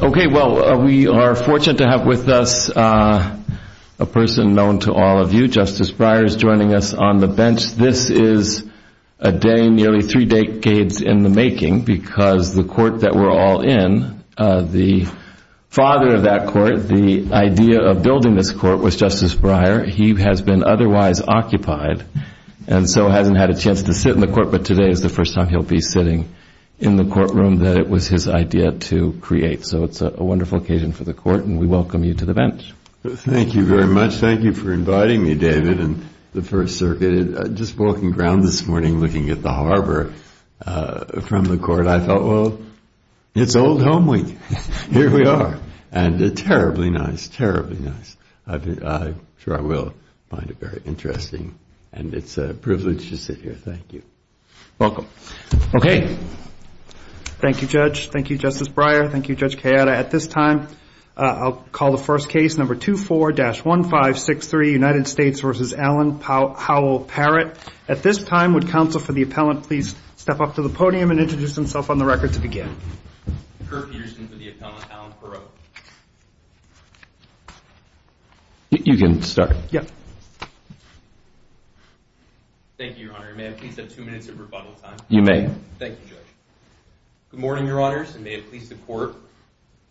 Okay, well we are fortunate to have with us a person known to all of you, Justice Breyer is joining us on the bench. This is a day nearly three decades in the making because the court that we're all in, the father of that court, the idea of building this court was Justice Breyer. He has been otherwise occupied and so hasn't had a chance to sit in the court, but today is the first time he'll be sitting in the courtroom that it was his idea to create. So it's a wonderful occasion for the court and we welcome you to the bench. Justice Breyer Thank you very much. Thank you for inviting me, David, and the First Circuit. Just walking around this morning looking at the harbor from the court, I thought, well, it's old home week. Here we are. And terribly nice, terribly nice. I'm sure I will find it very interesting. And it's a privilege to sit here. Thank you. Welcome. Judge Kedem Okay. Thank you, Judge. Thank you, Justice Breyer. Thank you, Judge Cayetta. At this time, I'll call the first case, number 24-1563, United States v. Alan Powell-Parrott. At this time, would counsel for the appellant please step up to the podium and introduce himself on the record to begin? Alan Powell-Parrott Curfusion for the appellant, Alan Powell-Parrott. You can start. Judge Kedem Thank you, Your Honor. May I please have two minutes of rebuttal time? Alan Powell-Parrott You may. Judge Kedem Thank you, Judge. Good morning, Your Honors, and may it please the Court.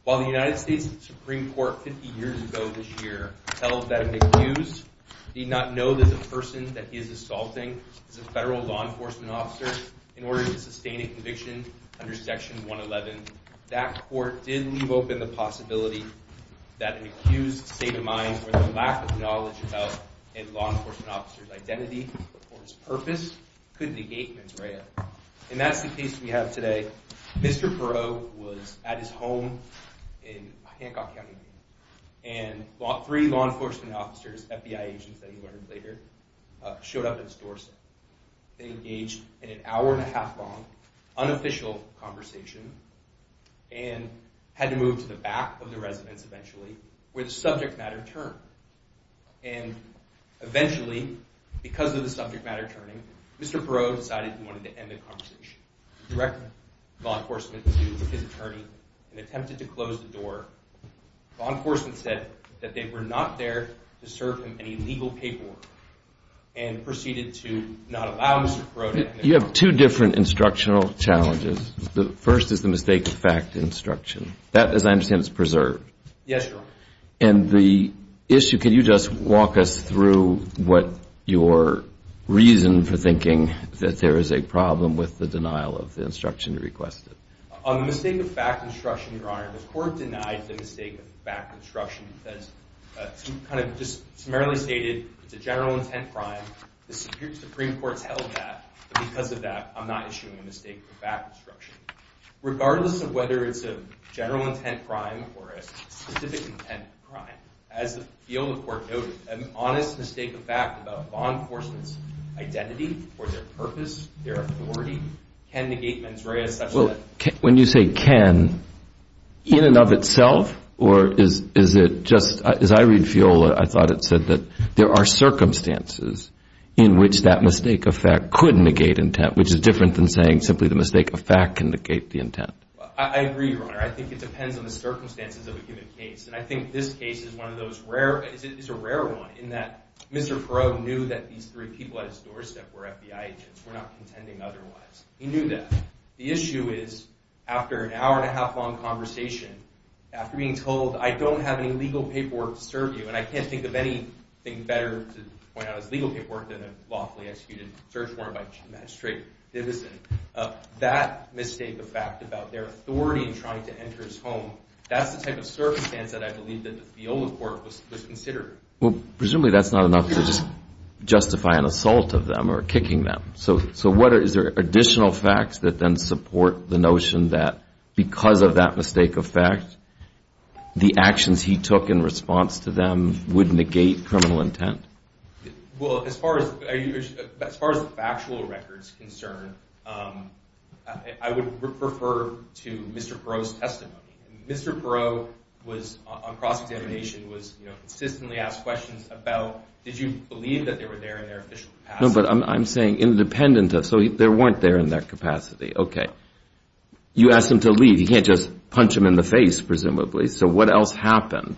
While the United States Supreme Court 50 years ago this year tells that an accused need not know that the person that he is assaulting is a federal law enforcement officer in order to sustain a conviction under Section 111, that court did leave open the possibility that an accused's state of mind or the lack of knowledge about a law enforcement officer's identity or his purpose could negate his rail. And that's the case we have today. Mr. Parrott was at his home in Hancock County, and three law enforcement officers, FBI agents that he learned later, showed up at his doorstep. They engaged in an hour and a half long unofficial conversation and had to move to the back of the residence eventually, where the subject matter turned. And eventually, because of the subject matter turning, Mr. Parrott decided he wanted to end the conversation. He directed law enforcement to his attorney and attempted to close the door. Law enforcement said that they were not there to serve him any legal paperwork and proceeded to not allow Mr. Parrott in. Justice Breyer You have two different instructional challenges. The first is the mistake of fact instruction. That, as I understand, is preserved. Alan Powell-Parrott Yes, Your Honor. Justice Breyer The issue, can you just walk us through what your reason for thinking that there is a problem with the denial of the instruction you requested? Alan Powell-Parrott On the mistake of fact instruction, Your Honor, the court denied the mistake of fact instruction because it kind of just summarily stated it's a general intent crime. The Supreme Court's held that. But because of that, I'm not issuing a mistake of fact instruction. Regardless of whether it's a general intent crime or a specific intent crime, as the FIOLA court noted, an honest mistake of fact about a law enforcement's identity or their purpose, their authority, can negate mens rea such that Justice Breyer When you say can, in and of itself or is it just, as I read FIOLA, I thought it said that there are circumstances in which that mistake of fact could negate intent, which is different than saying simply the mistake of fact can negate the intent. Alan Powell-Parrott I agree, Your Honor. I think it depends on the circumstances of a given case. And I think this case is one of those rare, it's a rare one in that Mr. Parrott knew that these three people at his doorstep were FBI agents, were not contending otherwise. He knew that. The issue is, after an hour and a half long conversation, after being told I don't have any legal paperwork to serve you, and I can't think of anything better to point out as legal paperwork than a lawfully executed search warrant by Chief Magistrate Divison. That mistake of fact about their authority in trying to enter his home, that's the type of circumstance that I believe that the FIOLA court was considering. Judge Goldberg Well, presumably that's not enough to just justify an assault of them or kicking them. So is there additional facts that then support the notion that because of that mistake of fact, the actions he took in response to them would negate criminal intent? Well, as far as factual records are concerned, I would refer to Mr. Parrott's testimony. Mr. Parrott was, on cross-examination, was consistently asked questions about, did you believe that they were there in their official capacity? No, but I'm saying independent of, so they weren't there in their capacity. Okay. You asked him to leave. You can't just punch him in the face, presumably. So what else happened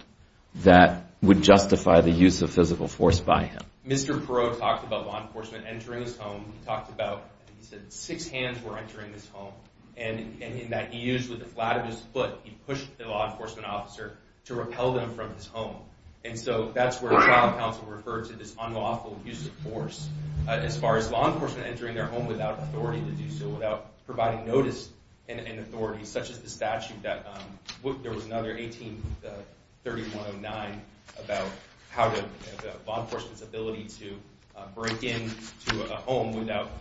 that would justify the use of physical force by him? Mr. Parrott talked about law enforcement entering his home. He talked about, he said, six hands were entering his home, and in that he used with the flat of his foot, he pushed the law enforcement officer to repel them from his home. And so that's where the trial counsel referred to this unlawful use of force. As far as law enforcement entering their home without authority to do so, without providing notice and authority, such as the statute that, there was another 183109 about how to, law enforcement's ability to break into a home without,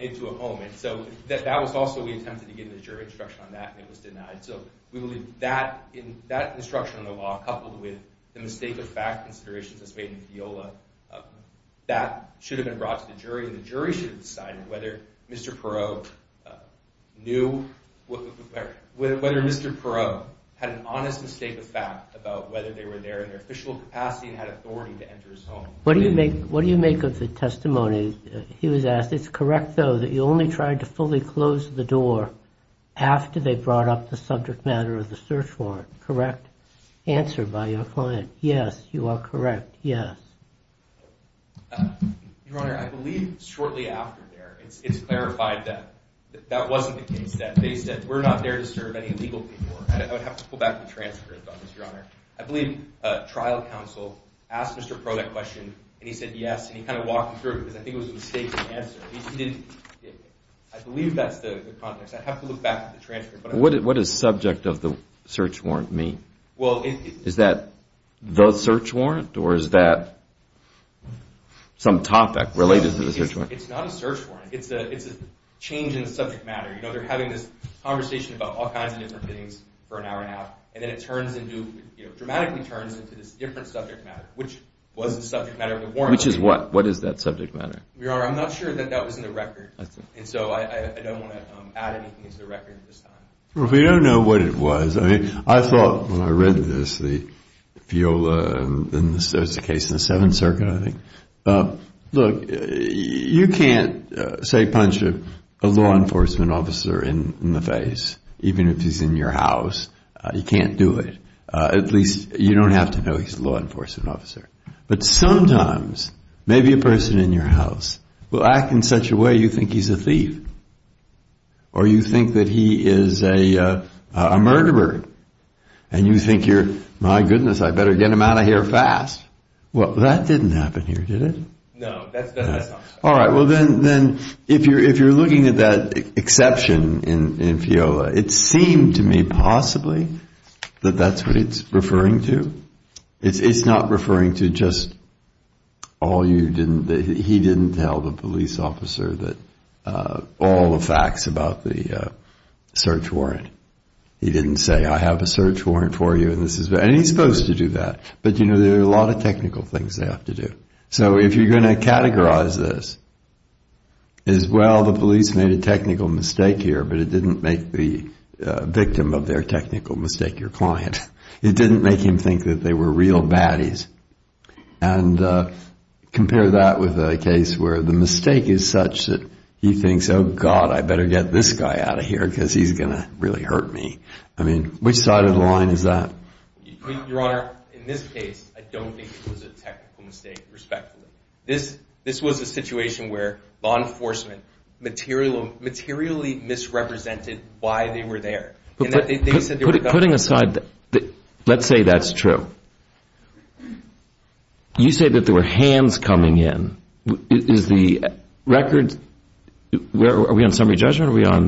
into a home. And so that was also, we attempted to get a jury instruction on that, and it was denied. So we believe that instruction on the law, coupled with the mistake of fact considerations as made in Fiola, that should have been brought to the jury, and the jury should have decided whether Mr. Parrott knew, whether Mr. Parrott had an honest mistake of fact about whether they were there in their official capacity and had authority to enter his home. What do you make, what do you make of the testimony? He was asked, it's correct though that you only tried to fully close the door after they brought up the subject matter of the search warrant, correct? Answered by your client, yes, you are correct, yes. Your Honor, I believe shortly after there, it's clarified that that wasn't the case, that they said we're not there to serve any legal people, and I would have to pull back the transcript on this, Your Honor. I believe trial counsel asked Mr. Parrott a question and he said yes, and he kind of walked him through it because I think it was a mistake to answer. I believe that's the context, I'd have to look back at the transcript. What does subject of the search warrant mean? Is that the search warrant, or is that some topic related to the search warrant? It's not a search warrant, it's a change in subject matter. You know, they're having this conversation about all kinds of different things for an hour and a half, and then it turns into, dramatically turns into this different subject matter, which was the subject matter of the warrant. Which is what? What is that subject matter? Your Honor, I'm not sure that that was in the record, and so I don't want to add anything to the record at this time. Well, we don't know what it was. I mean, I thought when I read this, the viola, and there's a case in the Seventh Circuit, I think. Look, you can't, say, punch a law enforcement officer in the face, even if he's in your house. You can't do it. At least, you don't have to know he's a law enforcement officer. But sometimes, maybe a person in your house will act in such a way you think he's a thief, or you think that he is a murderer, and you think you're, my goodness, I better get him out of here fast. Well, that didn't happen here, did it? No, that's not true. All right, well then, if you're looking at that exception in viola, it seemed to me, possibly, that that's what it's referring to. It's not referring to just all you didn't, that he didn't tell the police officer all the facts about the search warrant. He didn't say, I have a search warrant for you, and this is, and he's supposed to do that. But you know, there are a lot of technical things they have to do. So if you're going to categorize this as, well, the police made a technical mistake here, but it didn't make the victim of their technical mistake your client. It didn't make him think that they were real baddies. And compare that with a case where the mistake is such that he thinks, oh, God, I better get this guy out of here because he's going to really hurt me. I mean, which side of the line is that? Your Honor, in this case, I don't think it was a technical mistake, respectfully. This was a situation where law enforcement materially misrepresented why they were there. Putting aside, let's say that's true. You say that there were hands coming in. Is the record, are we on summary judgment or are we on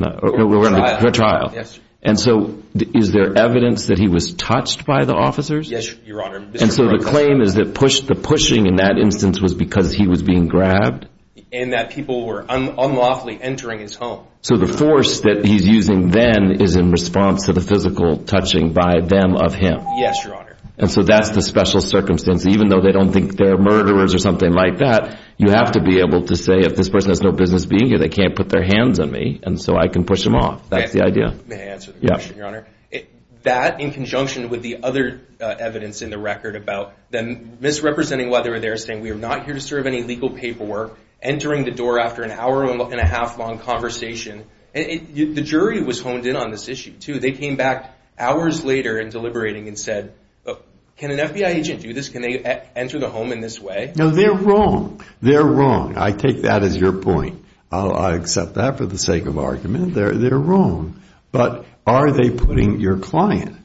the trial? Yes. And so is there evidence that he was touched by the officers? Yes, Your Honor. And so the claim is that the pushing in that instance was because he was being grabbed? And that people were unlawfully entering his home. So the force that he's using then is in response to the physical touching by them of him. Yes, Your Honor. And so that's the special circumstance. Even though they don't think they're murderers or something like that, you have to be able to say, if this person has no business being here, they can't put their hands on me, and so I can push them off. That's the idea. May I answer the question, Your Honor? Yes. That in conjunction with the other evidence in the record about them misrepresenting why they were there, saying we are not here to serve any legal paperwork, entering the door after an hour and a half long conversation, the jury was honed in on this issue, too. They came back hours later and deliberating and said, look, can an FBI agent do this? Can they enter the home in this way? No, they're wrong. They're wrong. I take that as your point. I accept that for the sake of argument. They're wrong. But are they putting your client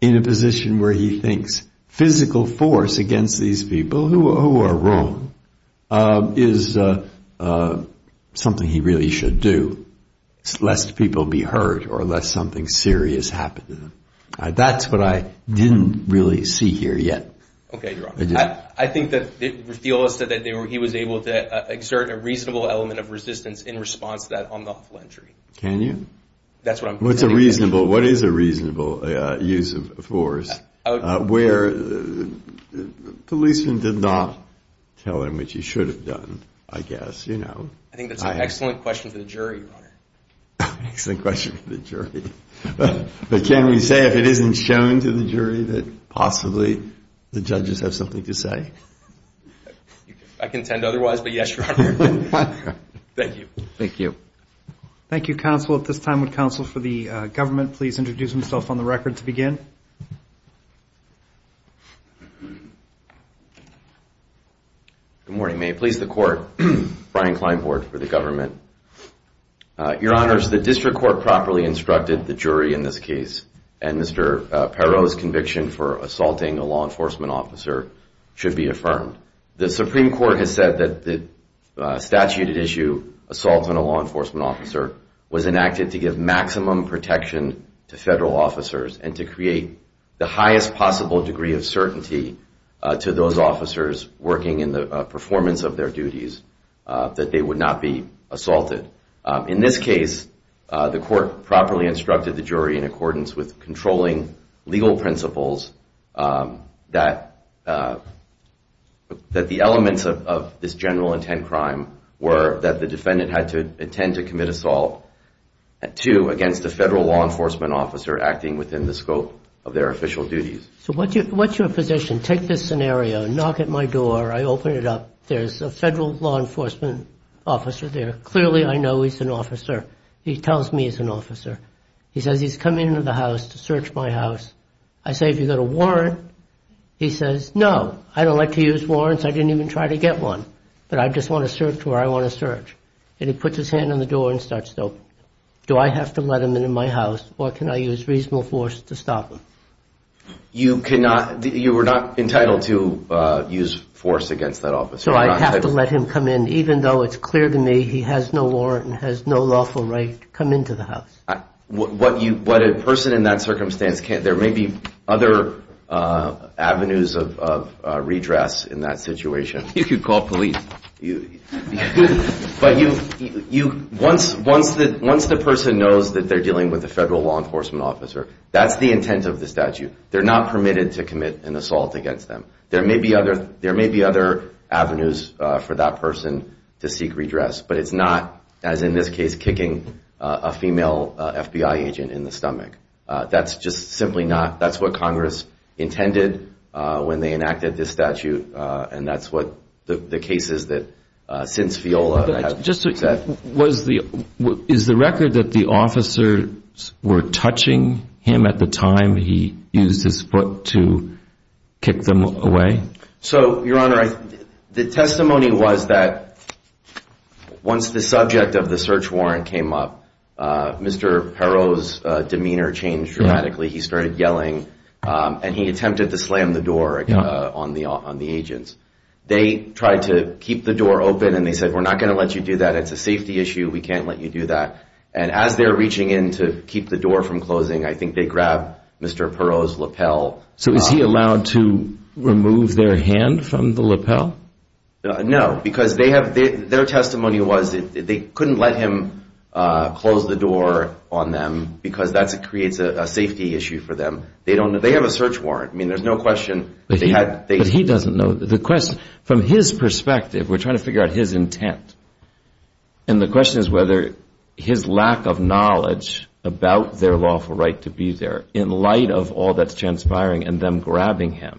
in a position where he thinks physical force against these people, who are wrong, is something he really should do, lest people be hurt or lest something serious happen to them? That's what I didn't really see here yet. Okay, Your Honor. I think that it reveals that he was able to exert a reasonable element of resistance in response to that unlawful entry. Can you? That's what I'm saying. What is a reasonable use of force where the policeman did not tell him what he should have done, I guess. I think that's an excellent question for the jury, Your Honor. Excellent question for the jury. But can we say if it isn't shown to the jury that possibly the judges have something to say? I contend otherwise, but yes, Your Honor. Thank you. Thank you. Thank you, counsel. At this time, would counsel for the government please introduce himself on the record to begin? Good morning. May it please the court, Brian Kleinbord for the government. Your Honors, the district court properly instructed the jury in this case, and Mr. Perot's conviction for assaulting a law enforcement officer should be affirmed. The Supreme Court has said that the statute at issue, assault on a law enforcement officer, was enacted to give maximum protection to federal officers and to create the highest possible degree of certainty to those officers working in the performance of their duties, that they would not be assaulted. In this case, the court properly instructed the jury in accordance with controlling legal principles, that the elements of this general intent crime were that the defendant had to intend to commit assault, two, against a federal law enforcement officer acting within the scope of their official duties. So what's your position? Take this scenario. Knock at my door. I open it up. There's a federal law enforcement officer there. Clearly I know he's an officer. He tells me he's an officer. I say, have you got a warrant? He says, no. I don't like to use warrants. I didn't even try to get one. But I just want to search where I want to search. And he puts his hand on the door and starts talking. Do I have to let him in my house, or can I use reasonable force to stop him? You were not entitled to use force against that officer. So I have to let him come in, even though it's clear to me he has no warrant and has no lawful right to come into the house. What a person in that circumstance can't, there may be other avenues of redress in that situation. You could call police. Once the person knows that they're dealing with a federal law enforcement officer, that's the intent of the statute. They're not permitted to commit an assault against them. There may be other avenues for that person to seek redress. But it's not, as in this case, kicking a female FBI agent in the stomach. That's just simply not, that's what Congress intended when they enacted this statute. And that's what the cases that since FIOLA have said. Is the record that the officers were touching him at the time he used his foot to kick them away? So, Your Honor, the testimony was that once the subject of the search warrant came up, Mr. Perot's demeanor changed dramatically. He started yelling and he attempted to slam the door on the agents. They tried to keep the door open and they said, we're not going to let you do that. It's a safety issue. We can't let you do that. And as they're reaching in to keep the door from closing, I think they grabbed Mr. Perot's lapel. So is he allowed to remove their hand from the lapel? No, because their testimony was they couldn't let him close the door on them because that creates a safety issue for them. They have a search warrant. I mean, there's no question. But he doesn't know. From his perspective, we're trying to figure out his intent. And the question is whether his lack of knowledge about their lawful right to be there in light of all that's transpired and them grabbing him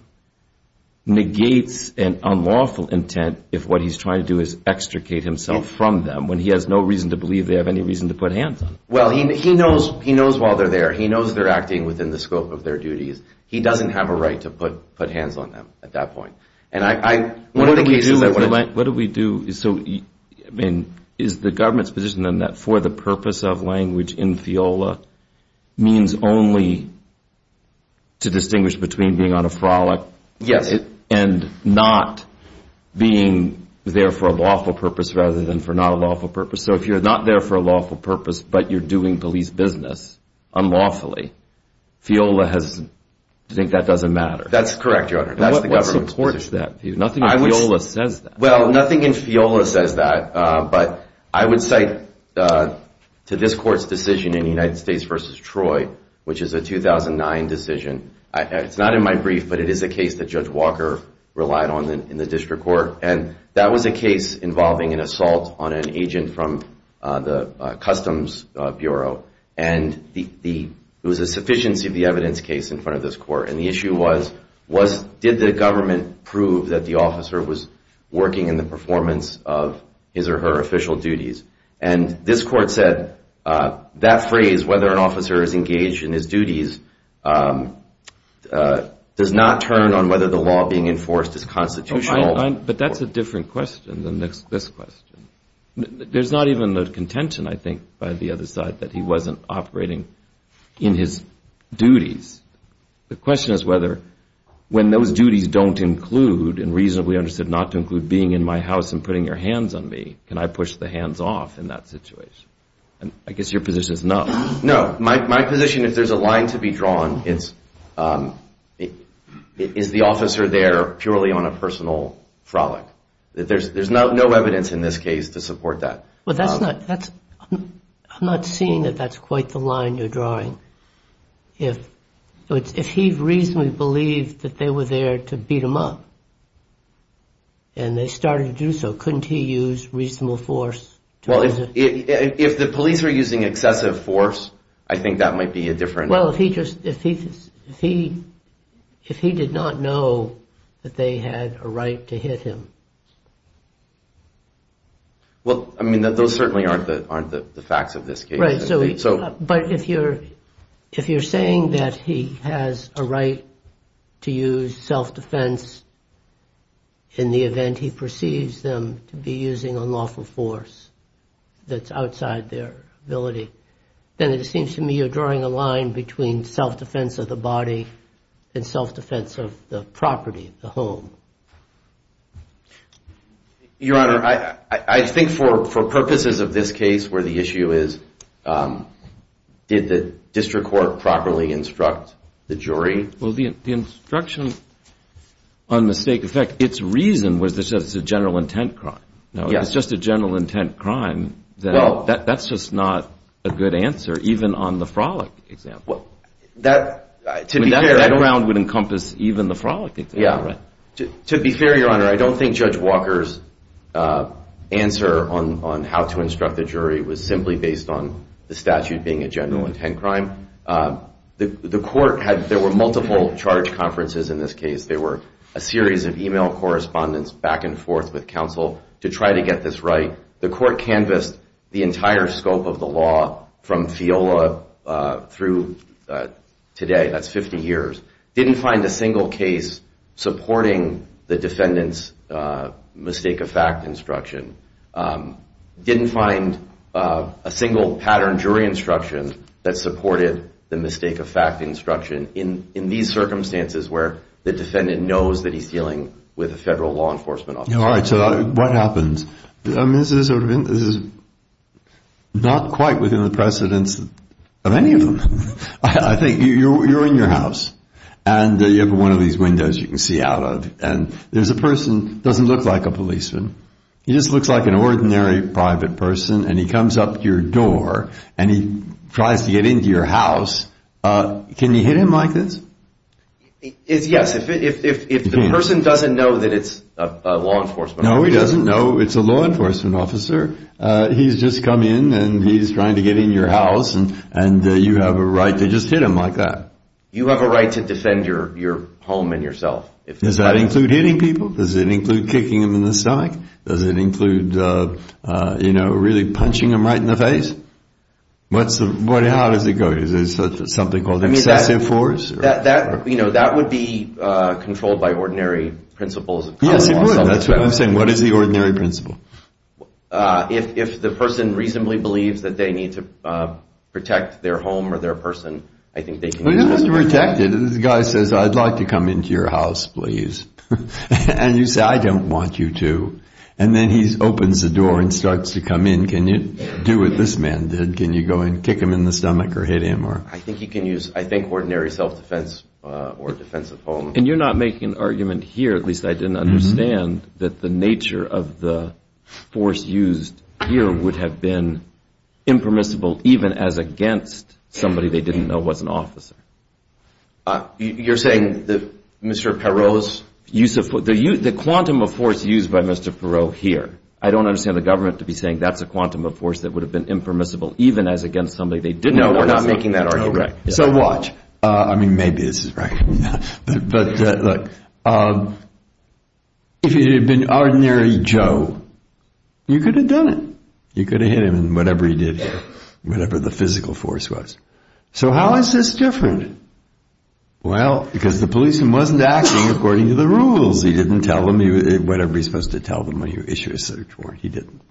negates an unlawful intent if what he's trying to do is extricate himself from them when he has no reason to believe they have any reason to put hands on them. Well, he knows while they're there. He knows they're acting within the scope of their duties. He doesn't have a right to put hands on them at that point. What do we do? Is the government's position then that for the purpose of language in FIOLA means only to distinguish between being on a frolic and not being there for a lawful purpose rather than for not a lawful purpose? So if you're not there for a lawful purpose, but you're doing police business unlawfully, FIOLA has to think that doesn't matter. That's correct, Your Honor. That's the government's position. What supports that view? Nothing in FIOLA says that. But I would say to this court's decision in the United States v. Troy, which is a 2009 decision. It's not in my brief, but it is a case that Judge Walker relied on in the district court. And that was a case involving an assault on an agent from the Customs Bureau. And it was a sufficiency of the evidence case in front of this court. And the issue was, did the government prove that the officer was working in the performance of his or her official duties? And this court said that phrase, whether an officer is engaged in his duties, does not turn on whether the law being enforced is constitutional. But that's a different question than this question. There's not even a contention, I think, by the other side that he wasn't operating in his duties. The question is whether when those duties don't include, and reasonably understood not to include being in my house and putting your hands on me, can I push the hands off in that situation? And I guess your position is no. No. My position, if there's a line to be drawn, is the officer there purely on a personal frolic? There's no evidence in this case to support that. Well, I'm not seeing that that's quite the line you're drawing. If he reasonably believed that they were there to beat him up and they started to do so, couldn't he use reasonable force? Well, if the police were using excessive force, I think that might be a different... Well, if he did not know that they had a right to hit him. Well, I mean, those certainly aren't the facts of this case. Right. But if you're saying that he has a right to use self-defense in the event he perceives them to be using unlawful force that's outside their ability, then it seems to me you're drawing a line between self-defense of the body and self-defense of the property, the home. Your Honor, I think for purposes of this case where the issue is, did the district court properly instruct the jury? Well, the instruction, on mistake of fact, its reason was that it's a general intent crime. It's just a general intent crime. That's just not a good answer, even on the frolic example. That background would encompass even the frolic example, right? To be fair, Your Honor, I don't think Judge Walker's answer on how to instruct the jury was simply based on the statute being a general intent crime. There were multiple charge conferences in this case. There were a series of email correspondence back and forth with counsel to try to get this right. The court canvassed the entire scope of the law from FIOLA through today, that's 50 years. Didn't find a single case supporting the defendant's mistake of fact instruction. Didn't find a single pattern jury instruction that supported the mistake of fact instruction in these circumstances where the defendant knows that he's dealing with a federal law enforcement officer. All right, so what happens? This is not quite within the precedence of any of them. I think you're in your house and you have one of these windows you can see out of and there's a person who doesn't look like a policeman. He just looks like an ordinary private person and he comes up to your door and he tries to get into your house. Can you hit him like this? Yes, if the person doesn't know that it's a law enforcement officer. No, he doesn't know it's a law enforcement officer. He's just come in and he's trying to get in your house and you have a right to just hit him like that. You have a right to defend your home and yourself. Does that include hitting people? Does it include kicking him in the stomach? Does it include really punching him right in the face? How does it go? Is it something called excessive force? That would be controlled by ordinary principles. Yes, it would. I'm saying what is the ordinary principle? If the person reasonably believes that they need to protect their home or their person. He doesn't have to protect it. The guy says, I'd like to come into your house, please. And you say, I don't want you to. And then he opens the door and starts to come in. Can you do what this man did? Can you go and kick him in the stomach or hit him? I think ordinary self-defense or defense of home. And you're not making an argument here, at least I didn't understand, that the nature of the force used here would have been impermissible, even as against somebody they didn't know was an officer. You're saying that Mr. Perot's use of the quantum of force used by Mr. Perot here. I don't understand the government to be saying that's a quantum of force that would have been impermissible, even as against somebody they didn't know was an officer. So watch. I mean, maybe this is right. If he had been ordinary Joe, you could have done it. You could have hit him in whatever he did here, whatever the physical force was. So how is this different? Well, because the policeman wasn't acting according to the rules. He didn't tell them, whatever you're supposed to tell them when you issue a search warrant, he didn't.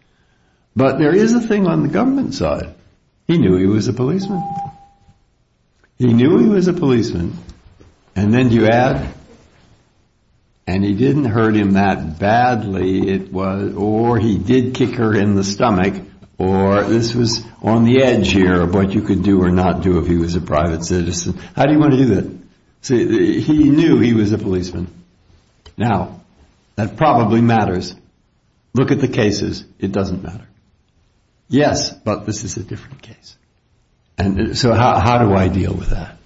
But there is a thing on the government side. He knew he was a policeman. He knew he was a policeman. And then you add, and he didn't hurt him that badly, or he did kick her in the stomach, or this was on the edge here of what you could do or not do if he was a private citizen. How do you want to do that? So he knew he was a policeman. Now, that probably matters. Look at the cases. It doesn't matter. Yes, but this is a different case. And so how do I deal with that?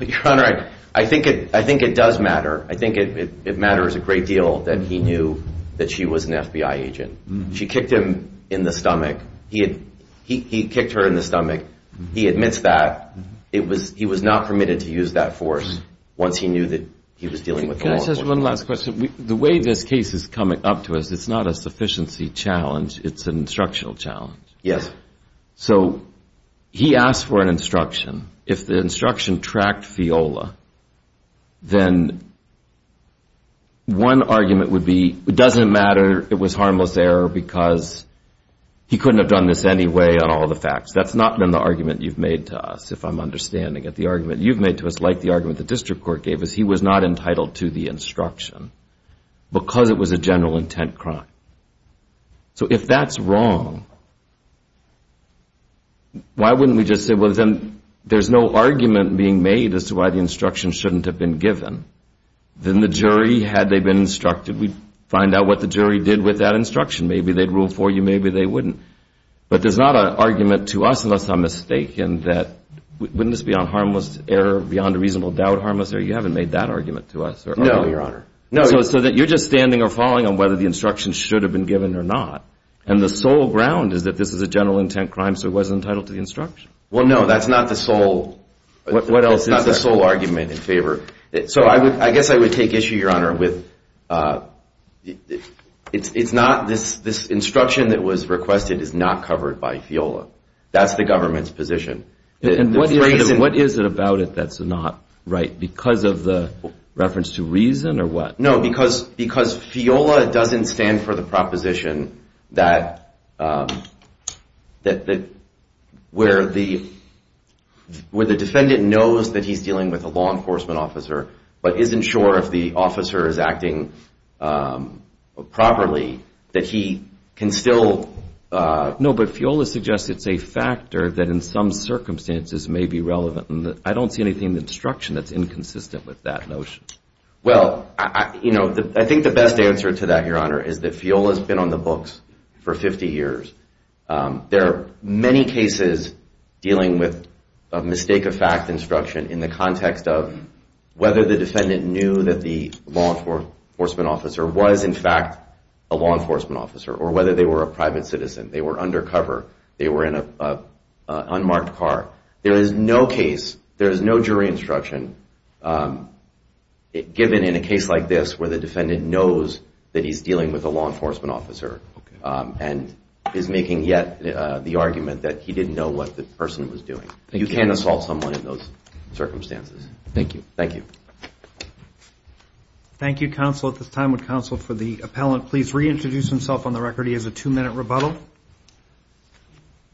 Your Honor, I think it does matter. I think it matters a great deal that he knew that she was an FBI agent. She kicked him in the stomach. He kicked her in the stomach. He admits that. He was not permitted to use that force once he knew that he was dealing with the law enforcement. Can I ask one last question? The way this case is coming up to us, it's not a sufficiency challenge. It's an instructional challenge. Yes. So he asked for an instruction. If the instruction tracked Fiola, then one argument would be, it doesn't matter it was harmless error because he couldn't have done this anyway on all the facts. That's not been the argument you've made to us, if I'm understanding it. The argument you've made to us, like the argument the district court gave us, he was not entitled to the instruction because it was a general intent crime. So if that's wrong, why wouldn't we just say, well, then there's no argument being made as to why the instruction shouldn't have been given, then the jury, had they been instructed, we'd find out what the jury did with that instruction. Maybe they'd rule for you. Maybe they wouldn't. But there's not an argument to us, unless I'm mistaken, that wouldn't this be on harmless error, beyond a reasonable doubt harmless error? You haven't made that argument to us. No, Your Honor. So you're just standing or falling on whether the instruction should have been given or not. And the sole ground is that this is a general intent crime, so it wasn't entitled to the instruction. Well, no, that's not the sole argument in favor. So I guess I would take issue, Your Honor, with this instruction that was requested is not covered by FIOLA. That's the government's position. And what is it about it that's not right, because of the reference to reason or what? No, because FIOLA doesn't stand for the proposition where the defendant knows that he's dealing with a law enforcement officer, but isn't sure if the officer is acting properly, that he can still... No, but FIOLA suggests it's a factor that in some circumstances may be relevant. I don't see anything in the instruction that's inconsistent with that notion. Well, I think the best answer to that, Your Honor, is that FIOLA's been on the books for 50 years. There are many cases dealing with a mistake-of-fact instruction in the context of whether the defendant knew that the law enforcement officer was in fact a law enforcement officer, or whether they were a private citizen, they were undercover, they were in an unmarked car. There is no case, there is no jury instruction given in a case like this where the defendant knows that he's dealing with a law enforcement officer and is making yet the argument that he didn't know what the person was doing. You can't assault someone in those circumstances. Thank you. Thank you, Counsel. At this time, would Counsel for the Appellant please reintroduce himself on the record? He has a two-minute rebuttal.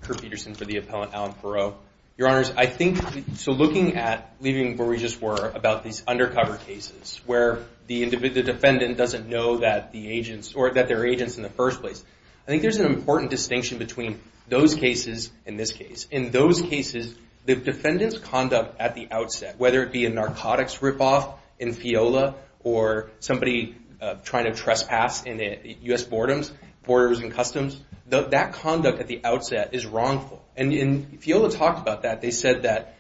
Kurt Peterson for the Appellant, Alan Perreault. Your Honors, I think, so looking at, leaving where we just were about these undercover cases where the defendant doesn't know that the agents, or that there are agents in the first place, I think there's an important distinction between those cases and this case. In those cases, the defendant's conduct at the outset, whether it be a narcotics ripoff in FIOLA or somebody trying to trespass in U.S. Borders and Customs, that conduct at the outset is wrongful. And FIOLA talked about that. They said that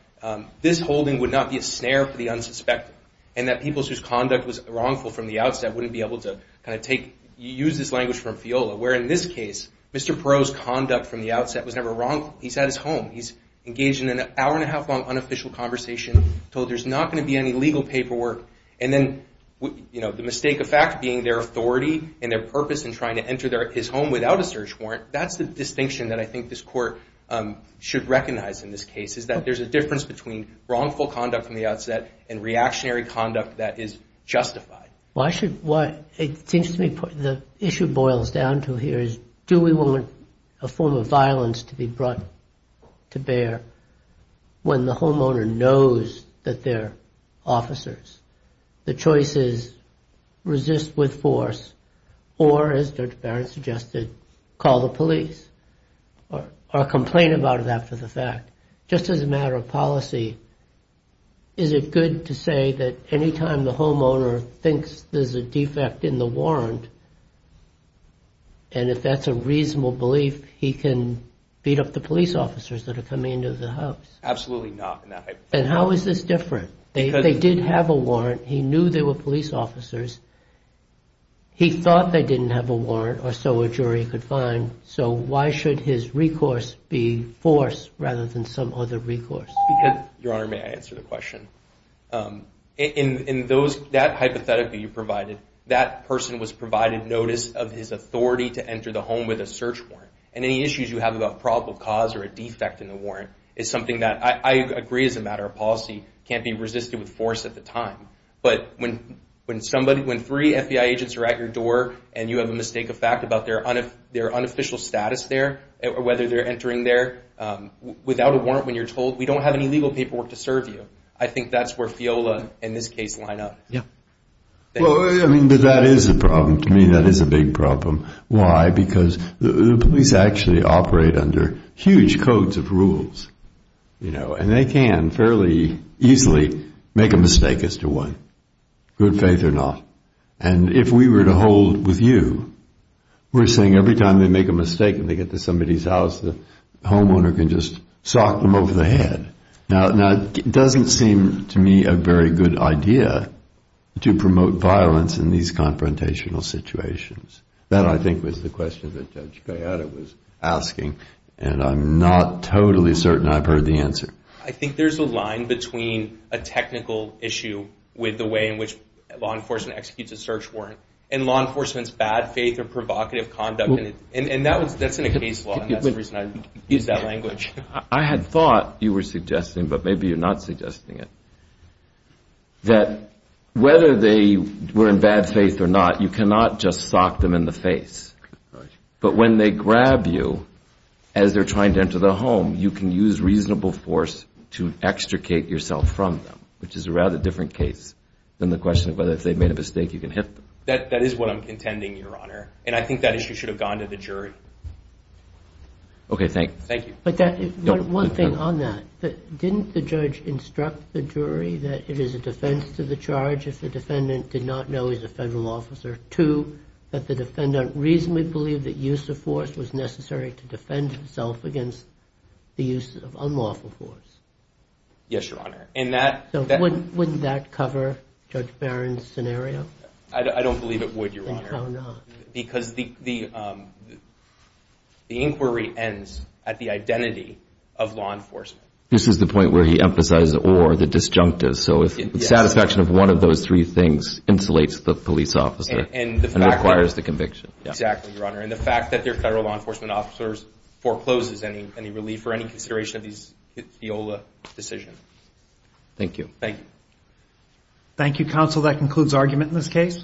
this holding would not be a snare for the unsuspecting and that people whose conduct was wrongful from the outset wouldn't be able to use this language from FIOLA, where in this case, Mr. Perreault's conduct from the outset was never wrongful. He's at his home. He's engaged in an hour-and-a-half-long unofficial conversation, told there's not going to be any legal paperwork. And then, you know, the mistake of fact being their authority and their purpose in trying to enter his home without a search warrant, that's the distinction that I think this Court should recognize in this case, is that there's a difference between wrongful conduct from the outset and reactionary conduct that is justified. It seems to me the issue boils down to here is, do we want a form of violence to be brought to bear when the homeowner knows that they're officers? The choice is resist with force or, as Judge Barrett suggested, call the police or complain about it after the fact. Just as a matter of policy, is it good to say that any time the homeowner thinks there's a defect in the warrant, and if that's a reasonable belief, he can beat up the police officers that are coming into the house? Absolutely not. And how is this different? They did have a warrant. He knew they were police officers. He thought they didn't have a warrant, or so a jury could find. So why should his recourse be force rather than some other recourse? Your Honor, may I answer the question? That person was provided notice of his authority to enter the home with a search warrant. And any issues you have about probable cause or a defect in the warrant is something that I agree as a matter of policy can't be resisted with force at the time. But when three FBI agents are at your door and you have a mistake of fact about their unofficial status there, or whether they're entering there without a warrant when you're told, we don't have any legal paperwork to serve you. I think that's where FIOLA and this case line up. That is a big problem. Why? Because the police actually operate under huge codes of rules. And they can fairly easily make a mistake as to one, good faith or not. And if we were to hold with you, we're saying every time they make a mistake and they get to somebody's house, the homeowner can just sock them over the head. Now, it doesn't seem to me a very good idea to promote violence in these confrontational situations. That, I think, was the question that Judge Gallardo was asking. And I'm not totally certain I've heard the answer. I think there's a line between a technical issue with the way in which law enforcement executes a search warrant and law enforcement's bad faith or provocative conduct. And that's in a case law, and that's the reason I used that language. I had thought you were suggesting, but maybe you're not suggesting it, that whether they were in bad faith or not, you cannot just sock them in the face. But when they grab you as they're trying to enter the home, you can use reasonable force to extricate yourself from them, which is a rather different case than the question of whether if they've made a mistake, you can hit them. That is what I'm contending, Your Honor, and I think that issue should have gone to the jury. Okay, thank you. One thing on that, didn't the judge instruct the jury that it is a defense to the charge if the defendant did not know he's a federal officer, two, that the defendant reasonably believed that use of force was necessary to defend himself against the use of unlawful force? Yes, Your Honor. So wouldn't that cover Judge Barron's scenario? I don't believe it would, Your Honor, because the inquiry ends at the identity of law enforcement. This is the point where he emphasized the or, the disjunctive. So if the satisfaction of one of those three things insulates the police officer and requires the conviction. Exactly, Your Honor, and the fact that their federal law enforcement officers forecloses any relief for any consideration of the OLA decision. Thank you. Thank you, counsel. That concludes argument in this case.